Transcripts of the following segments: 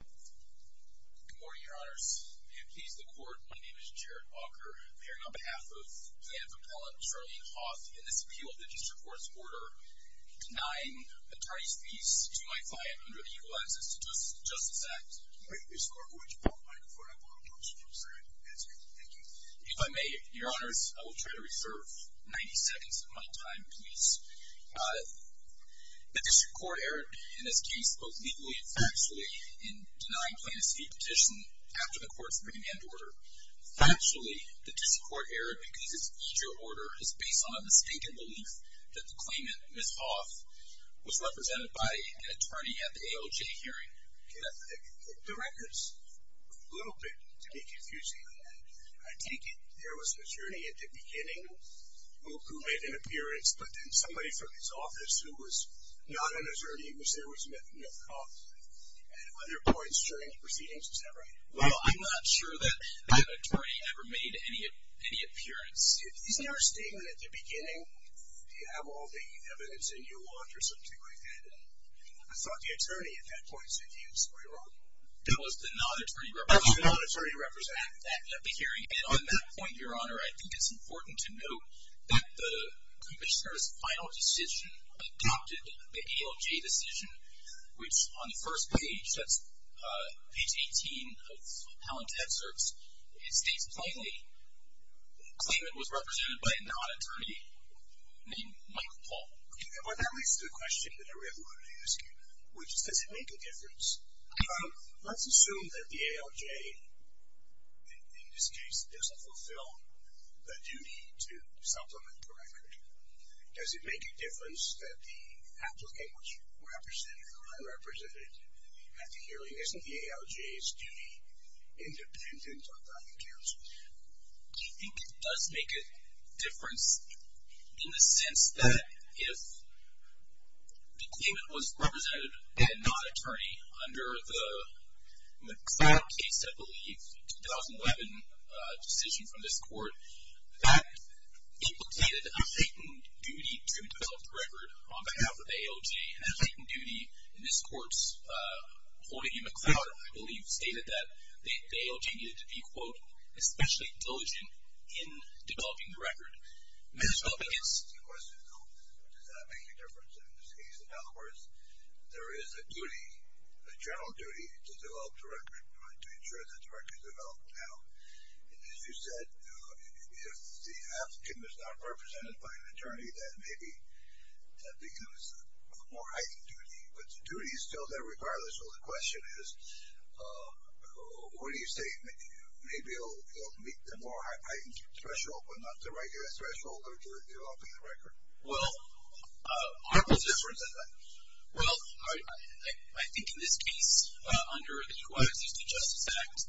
Good morning, Your Honors. May it please the Court, my name is Jared Walker. I'm here on behalf of the head of Appellate, Charlene Hoth, in this appeal of the District Court's order denying the Tardy's Fees to my client under the Equal Access to Justice Act. May it please the Court, would you pull up the microphone? I apologize, I'm sorry. That's okay, thank you. If I may, Your Honors, I will try to reserve 90 seconds of my time, please. The District Court erred in this case, both legally and factually, in denying plaintiff's fee petition after the court's remand order. Factually, the District Court erred because this feature order is based on a mistaken belief that the claimant, Ms. Hoth, was represented by an attorney at the ALJ hearing. The record's a little bit, to me, confusing. I take it there was an attorney at the beginning who made an appearance, but then somebody from his office who was not an attorney was there with Ms. Hoth. At other points during the proceedings, is that right? Well, I'm not sure that that attorney ever made any appearance. Isn't there a statement at the beginning? Do you have all the evidence that you want or something like that? I thought the attorney at that point said you, so you're wrong. That was the non-attorney representative at the hearing. And on that point, Your Honor, I think it's important to note that the Commissioner's final decision adopted the ALJ decision, which on the first page, that's page 18 of Helen's excerpts, it states plainly the claimant was represented by a non-attorney named Michael Paul. Okay. Well, that leads to a question that I really wanted to ask you, which is, does it make a difference? Let's assume that the ALJ, in this case, doesn't fulfill the duty to supplement the record. Does it make a difference that the applicant was represented or unrepresented at the hearing? Isn't the ALJ's duty independent of that of counsel? I think it does make a difference in the sense that if the claimant was represented by a non-attorney under the McLeod case, I believe, 2011 decision from this court, that implicated a heightened duty to develop the record on behalf of the ALJ. A heightened duty in this court's holding McLeod, I believe, stated that the ALJ needed to be, quote, especially diligent in developing the record. Yes. Does that make a difference in this case? In other words, there is a duty, a general duty, to develop the record, to ensure that the record is developed now. As you said, if the applicant is not represented by an attorney, then maybe that becomes a more heightened duty. But the duty is still there regardless. So the question is, what do you say? Maybe it will meet the more heightened threshold, but not the regular threshold of developing the record. Well, I think in this case, under the Equal Access to Justice Act,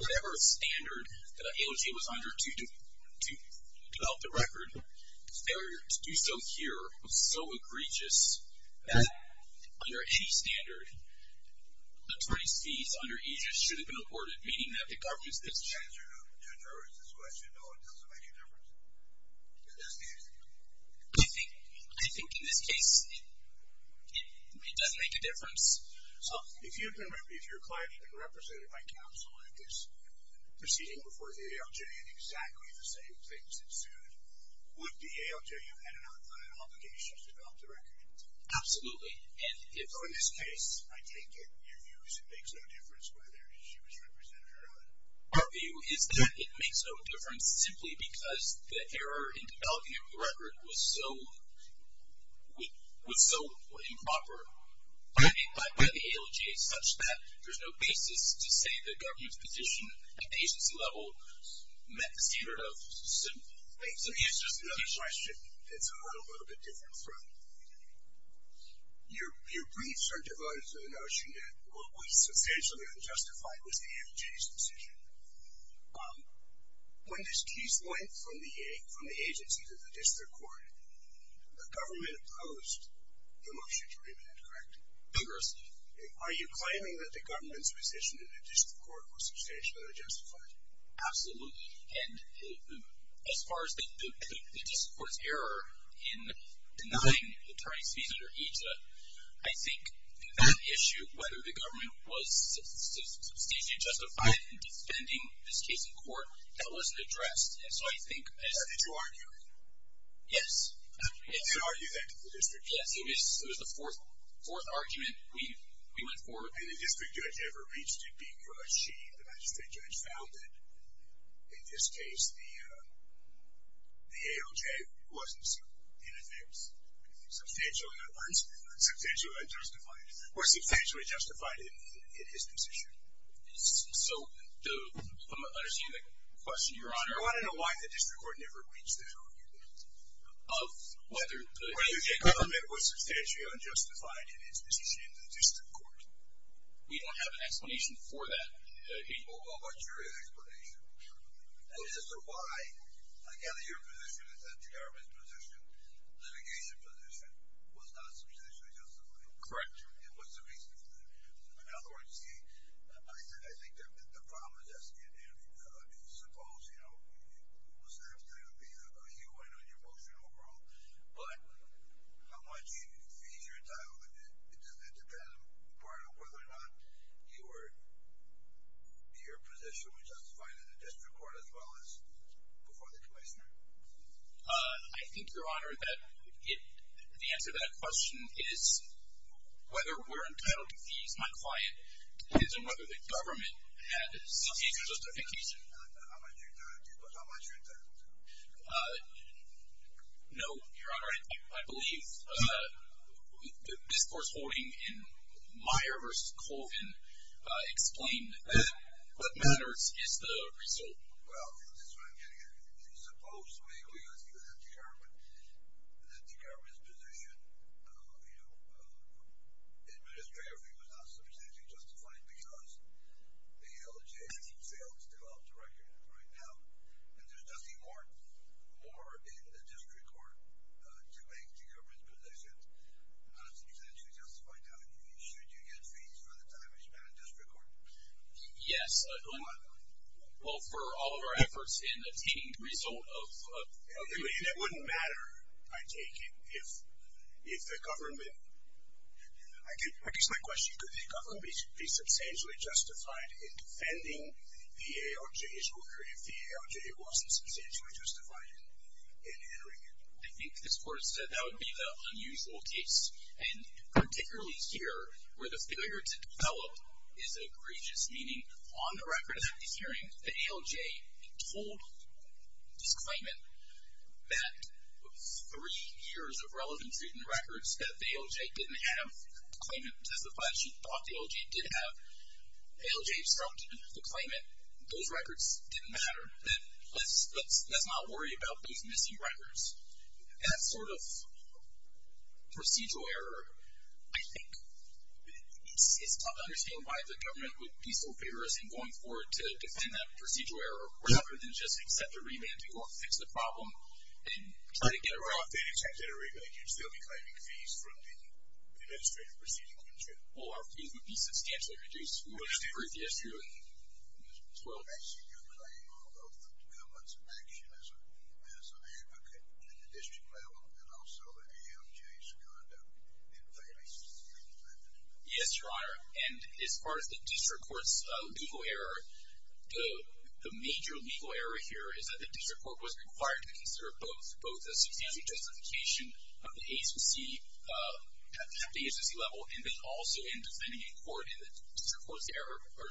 whatever standard the ALJ was under to develop the record, failure to do so here was so egregious that under any standard, attorney's fees under EGIS should have been afforded, meaning that the government's decision I think in this case, it doesn't make a difference. So if you can remember, if your client had been represented by counsel at this proceeding before the ALJ and exactly the same things ensued, would the ALJ have had an obligation to develop the record? Absolutely. So in this case, I take it your view is it makes no difference whether she was represented or not. Our view is that it makes no difference simply because the error in developing the record was so improper by the ALJ such that there's no basis to say the government's position at the agency level met the standard of simple things. So here's just another question that's on a little bit different front. Your briefs are devoted to the notion that what was substantially unjustified was the ALJ's decision. When this case went from the agency to the district court, the government opposed the motion to remit it, correct? Correct. Are you claiming that the government's position in the district court was substantially unjustified? Absolutely. And as far as the district court's error in denying the attorney's fees under EJSA, I think that issue, whether the government was substantially justified in defending this case in court, that wasn't addressed. And so I think as— Did you argue it? Yes. Did you argue that with the district judge? Yes. It was the fourth argument we went forward with. I don't think the district judge ever reached it because she, the magistrate judge, found that in this case the ALJ wasn't, in effect, substantially unjustified or substantially justified in his decision. So I'm understanding the question, Your Honor. Sure. I want to know why the district court never reached that argument. Whether the ALJ government was substantially unjustified in its decision in the district court. We don't have an explanation for that. Well, what's your explanation? And as to why, I gather your position is that the government's position, litigation position, was not substantially justified. And what's the reason for that? In other words, see, I think the problem is asking if, suppose, you know, it was absolutely a he-who-went-on-your-motion overall. But how much fees you're entitled to, it depends on whether or not your position was justified in the district court as well as before the commissioner. I think, Your Honor, that the answer to that question is whether we're entitled to fees, my client, depends on whether the government had substantial justification. How much are you entitled to? No, Your Honor, I believe the discourse holding in Meyer v. Colvin explained that. What matters is the result. Well, this is what I'm getting at. Suppose we argue that the government's position, you know, administratively was not substantially justified because the ALJ failed to develop the record right now. And there's nothing more in the district court to make the government's position not substantially justified now than fees. Should you get fees for the time you spent in district court? Yes, Your Honor. Well, for all of our efforts in attaining the result of. It wouldn't matter, I take it, if the government, I guess my question, could the government be substantially justified in defending the ALJ's record if the ALJ wasn't substantially justified in entering it? I think the court said that would be the unusual case. And particularly here where the failure to develop is egregious. Meaning on the record of that hearing, the ALJ told this claimant that three years of relevancy in the records that the ALJ didn't have. The claimant testified that she thought the ALJ did have. The ALJ obstructed the claimant. Those records didn't matter. Then let's not worry about those missing records. That sort of procedural error, I think, it's tough to understand why the government would be so vigorous in going forward to defend that procedural error rather than just accept a remand to go fix the problem and try to get it right. Well, if they didn't accept a remand, you'd still be claiming fees from the administrative procedure commission. Well, our fees would be substantially reduced. What was the brief yesterday? 12. Raising your claim of the government's inaction as an advocate at the district level and also the ALJ's conduct in failing to defend it. Yes, Your Honor. And as far as the district court's legal error, the major legal error here is that the district court was required to consider both. Both the substantial justification of the agency at the agency level and then also in defending in court. And the district court's error or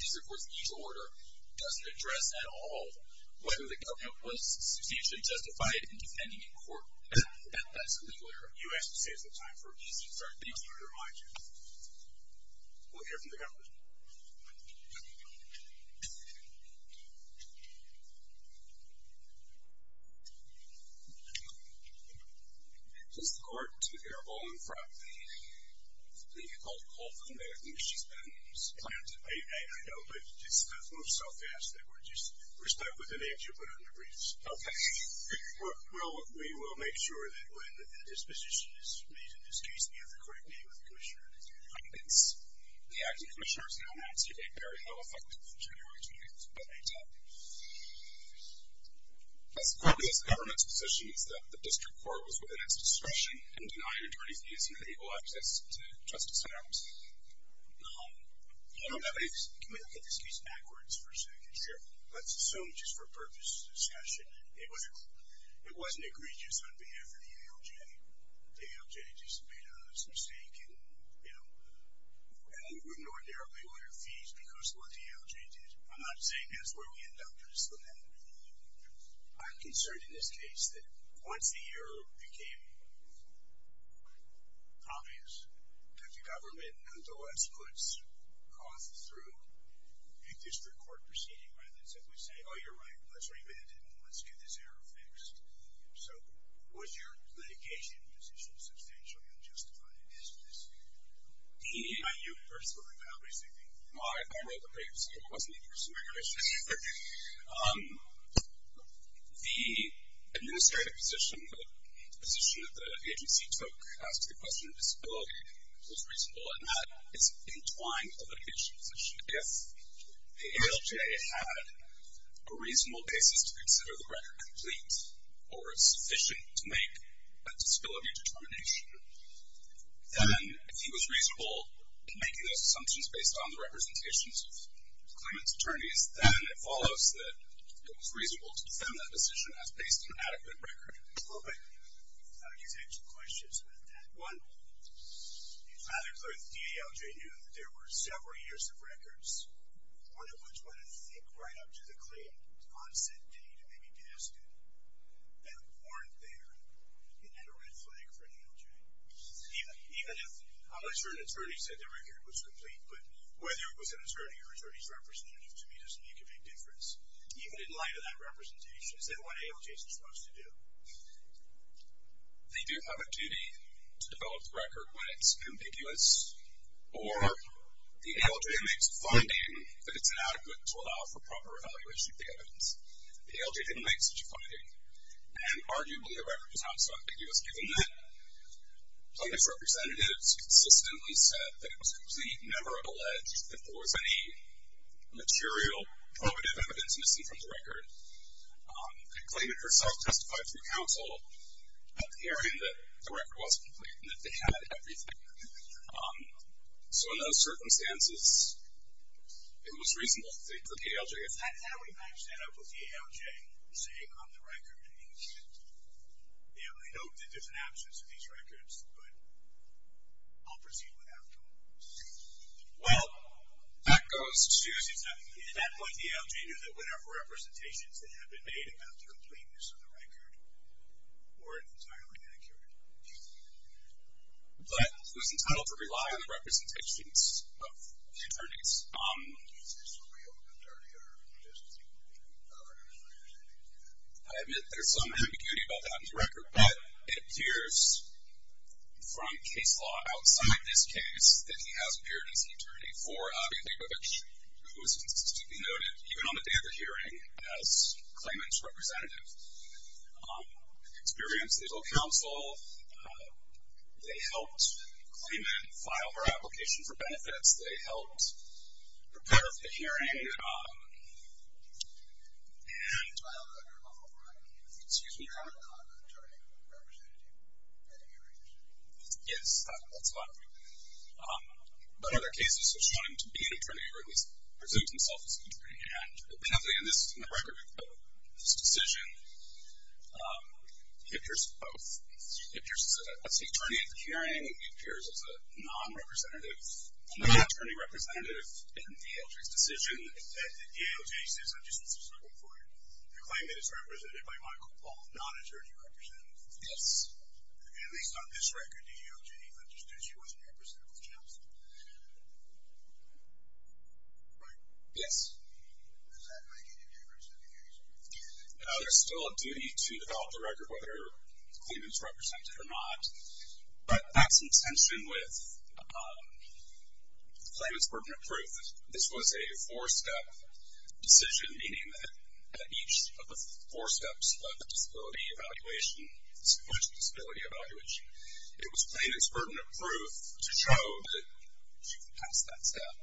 district court's mutual order doesn't address at all whether the government was substantially justified in defending in court. And that's a legal error. You actually saved some time for me, so I'm sorry. Thank you. We'll hear from the government. Is this the court to hear all in front? I think you called it a call for the mayor. I think she's been supplanted. I know, but this stuff moves so fast that we're just respectful of the names you put on the briefs. Okay. Well, we will make sure that when a disposition is made in this case that you have the correct name of the commissioner. I think it's the acting commissioner's name. I'm not seeing a barrier. No effect from January 28th, but I doubt it. As quickly as the government's position is that the district court was within its discretion in denying attorneys reasonable access to justice in our case. Can we look at this case backwards for a second? Sure. Let's assume just for purpose discussion. It wasn't egregious on behalf of the ALJ. The ALJ just made a mistake and, you know, we would ordinarily order fees because of what the ALJ did. I'm not saying that's where we end up. I'm concerned in this case that once the error became obvious, that the government nonetheless puts costs through a district court proceeding rather than simply saying, oh, you're right, let's remand it and let's get this error fixed. So was your litigation position substantially unjustified in this case? You first. I wrote the papers. It wasn't the first time I heard this. The administrative position, the position that the agency took as to the question of disability was reasonable, and that is entwined with the litigation position. If the ALJ had a reasonable basis to consider the record complete or sufficient to make a disability determination, then if he was reasonable in making those assumptions based on the representations of the claimant's attorneys, then it follows that it was reasonable to defend that decision as based on adequate record. I just had two questions about that. One, it's rather clear that the ALJ knew that there were several years of records, one of which went, I think, right up to the claim. On said date, it may be guessed that they weren't there and had a red flag for an ALJ. Even if an attorney said the record was complete, but whether it was an attorney or an attorney's representative to me doesn't make a big difference. Even in light of that representation, is that what ALJ is supposed to do? They do have a duty to develop the record when it's ambiguous, or the ALJ makes a finding that it's inadequate to allow for proper evaluation of the evidence. The ALJ didn't make such a finding. And arguably, the record was ambiguous, given that plaintiff's representatives consistently said that it was complete, never alleged that there was any material probative evidence missing from the record. The plaintiff herself testified through counsel that the record wasn't complete and that they had everything. So in those circumstances, it was reasonable for the ALJ. Is that how we match that up with the ALJ, say, on the record? I know that there's an absence of these records, but I'll proceed with that. Well, that goes to say that in that point, the ALJ knew that whatever representations that had been made about the completeness of the record weren't entirely accurate. But it was entitled to rely on the representations of the attorneys. Is this a real or just a hypothetical? It appears, from case law outside this case, that he has appeared as an attorney for Avi Leibovich, who is consistently noted, even on the day of the hearing, as Klayman's representative. They experienced legal counsel. They helped Klayman file her application for benefits. They helped prepare for the hearing. And... Excuse me. Yes, that's a lot of people. But other cases have shown him to be an attorney, or at least presumes himself as an attorney. And apparently in the record of this decision, he appears both. He appears as an attorney at the hearing. He appears as a non-attorney representative in the ALJ's decision. In the context of the ALJ's decision, I just want to circle for you. You claim that it's represented by Michael Paul, non-attorney representative. Yes. At least on this record, the ALJ understood she wasn't representative of Johnson. Right. Yes. Does that make any difference to the hearing? No, there's still a duty to develop the record, whether Klayman's represented or not. But that's in tension with Klayman's burden of proof. This was a four-step decision, meaning that each of the four steps of the disability evaluation was a disability evaluation. It was Klayman's burden of proof to show that she passed that step.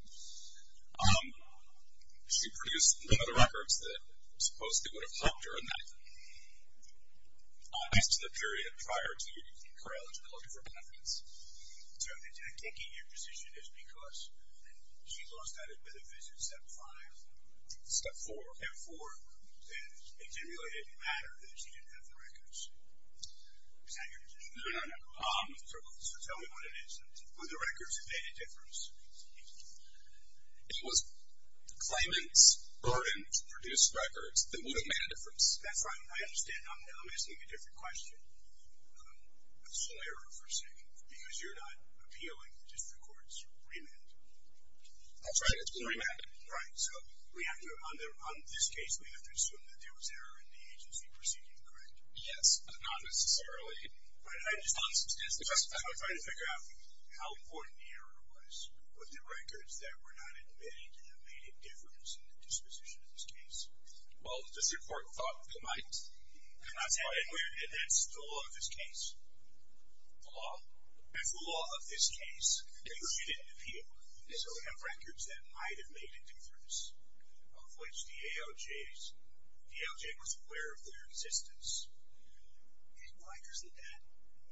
She produced none of the records that supposedly would have helped her in that. Prior to the period prior to her eligibility for benefits. So the technique in your position is because she lost out a bit of benefits in step five. Step four. Step four. And it generally didn't matter that she didn't have the records. Is that your position? No, no, no. So tell me what it is. Would the records have made a difference? It was Klayman's burden to produce records that would have made a difference. That's right. I understand. I'm asking you a different question. It's an error for a second, because you're not appealing the district court's remand. That's right. It's been remanded. Right. So on this case, we have to assume that there was error in the agency proceeding, correct? Yes, but not necessarily. Right. I'm just trying to figure out how important the error was with the records that were not admitted that made a difference in the disposition of this case. Well, the district court thought they might. And that's the law of this case. The law? That's the law of this case. Because she didn't appeal. So we have records that might have made a difference, of which the AOJ was aware of their existence. And why doesn't that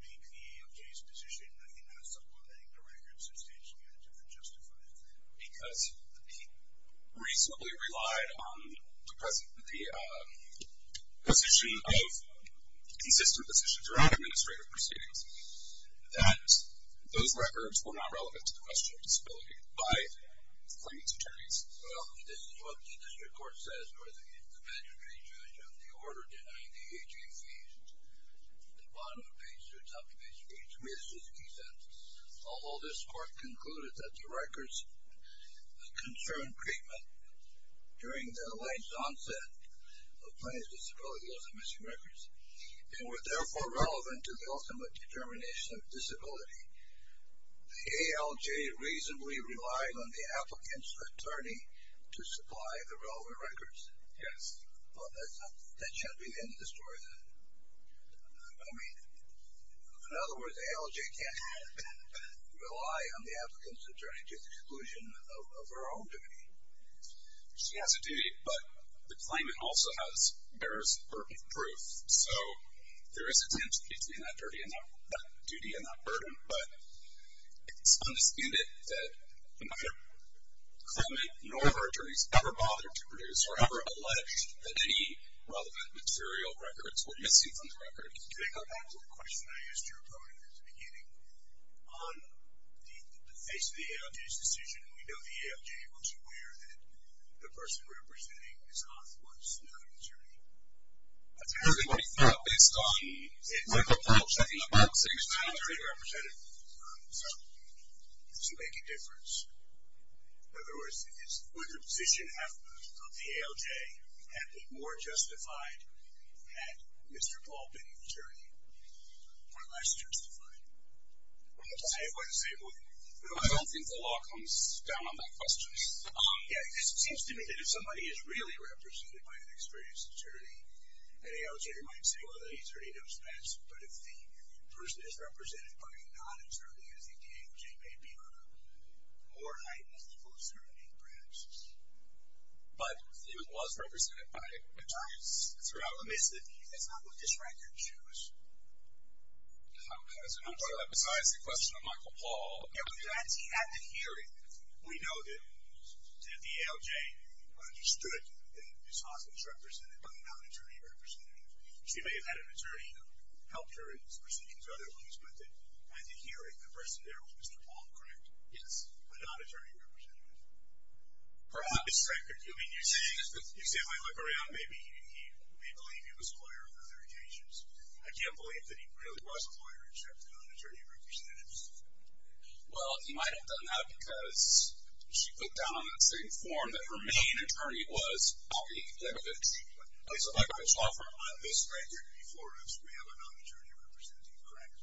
make the AOJ's position, I think, that supplementing the records substantially a different justification? Because he reasonably relied on the position of consistent positions around administrative proceedings, that those records were not relevant to the question of disability by the plaintiff's attorneys. Well, this is what the district court says, or the conventionary judge of the order denying the AOJ fees. At the bottom of the page, it's up to page three. It's just a key sentence. Although this court concluded that the records concerned treatment during the alleged onset of plaintiff's disability as a missing records and were therefore relevant to the ultimate determination of disability, the AOJ reasonably relied on the applicant's attorney to supply the relevant records. Yes. Well, that should be the end of the story then. I mean, in other words, the AOJ can't rely on the applicant's attorney to the exclusion of her own duty. She has a duty, but the claimant also bears her proof. So there is a tension between that duty and that burden, but it's understanded that neither claimant nor her attorneys ever bothered to produce or ever alleged that any relevant material records were missing from the record. Can I go back to the question I asked your opponent at the beginning? On the face of the AOJ's decision, we know the AOJ was aware that the person representing Ms. Hoth was another attorney. I think it's based on a couple of things. The attorney represented herself to make a difference. In other words, would the position of the AOJ have been more justified had Mr. Paul been an attorney or less justified? I don't think the law comes down on that question. Yes, it seems to me that if somebody is really represented by an experienced attorney, an AOJ might say, well, the attorney knows best, but if the person is represented by a non-attorney, I think the AOJ may be on a more heightened level of certainty, perhaps. But it was represented by attorneys throughout the case. That's not what this record shows. Besides the question of Michael Paul. At the hearing, we know that the AOJ understood that Ms. Hoth was represented by a non-attorney representative. She may have had an attorney who helped her in these proceedings or other ways, but at the hearing, the person there was Mr. Paul, correct? Yes. A non-attorney representative. Perhaps. You simply look around, maybe he may believe he was a lawyer on other occasions. I can't believe that he really was a lawyer, except that on attorney representatives. Well, he might have done that because she put down on the same form that her main attorney was. Okay. So, Michael, let's talk for a moment. Ms. Hoth, you're going to be flooring us. We have a non-attorney representative, correct?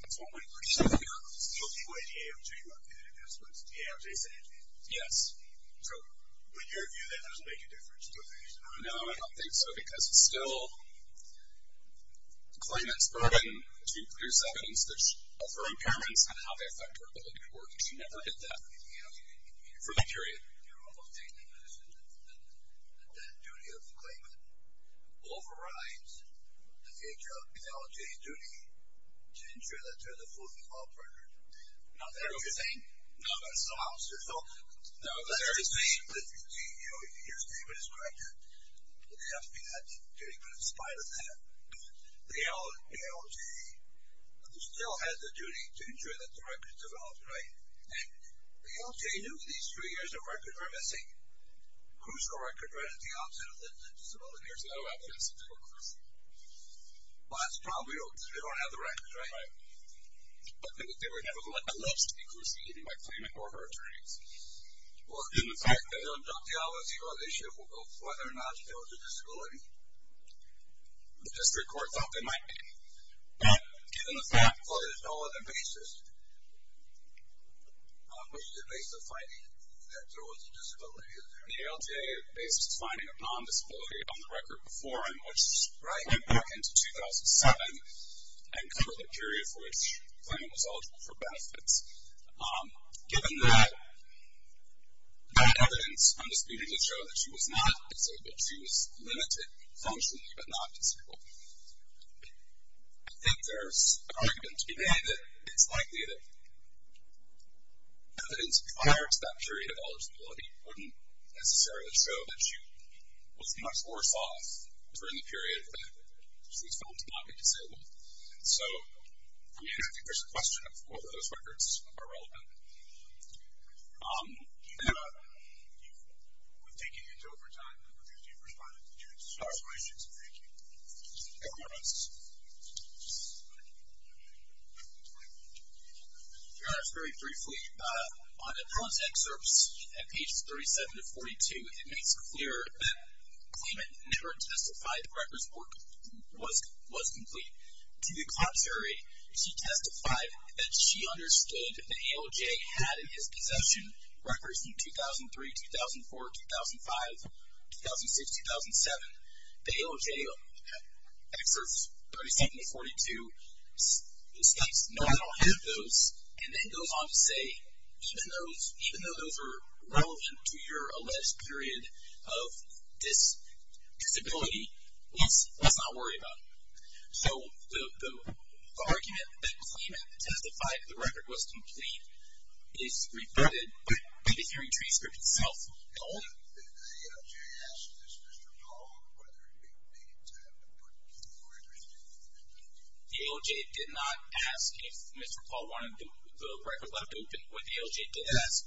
That's one way to put it. So, the AOJ looked at it and that's what the AOJ said? Yes. So, would your view then make a difference? No, I don't think so, because it's still a claimant's burden to produce evidence for impairments and how they affect her ability to work, and she never did that for that period. You're almost saying that that duty of the claimant overrides the AOJ's duty to ensure that there's a full-fledged law partner? No, that's not what you're saying. No, that's not what I'm saying. So, that's what you're saying, but your statement is correct. It has to be that duty, but in spite of that, the AOJ still has a duty to ensure that the record is developed, right? And the AOJ knew that these three years of record were missing. Who's her record right at the outset of the disability years? I don't have the answer to that question. Well, that's probably because they don't have the records, right? Right. But they were never going to let the list be proceeded by claimant or her attorneys. Well, in fact, I don't doubt the OASU's issue of whether or not she has a disability. The district court thought they might be, but given the fact that there's no other basis, what's the basis of finding that there was a disability? The AOJ's basis of finding a non-disability on the record before him, which is right back into 2007, and cover the period for which the claimant was eligible for benefits. Given that, that evidence, I'm disputing to show that she was not disabled. She was limited, functionally, but not disabled. I think there's an argument to be made that it's likely that evidence prior to that period of eligibility wouldn't necessarily show that she was much worse off during the period of benefits. She was found to not be disabled. And so, I mean, I think there's a question of whether those records are relevant. You've taken your time. I'm confused. You've responded to two questions. Thank you. Go ahead. Your Honor, very briefly, on the first excerpts, at pages 37 to 42, it makes clear that the claimant never testified the record's work was complete. To the contrary, she testified that she understood the ALJ had in his possession records from 2003, 2004, 2005, 2006, 2007. The ALJ, excerpts 37 to 42, states, no, I don't have those, and then goes on to say, even though those are relevant to your alleged period of disability, let's not worry about it. So, the argument that the claimant testified the record was complete is reverted, but the hearing transcript itself held. Did the ALJ ask Mr. Paul whether he would make it to a court hearing? The ALJ did not ask if Mr. Paul wanted the record left open. What the ALJ did ask,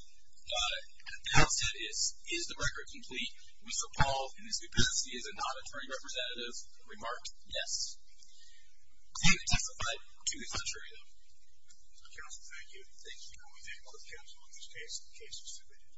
the outset is, is the record complete? Mr. Paul, in his publicity as a non-attorney representative, remarked, yes. The hearing testified to the contrary though. Counsel, thank you. Thank you. And we thank both counsel in this case. The case is submitted.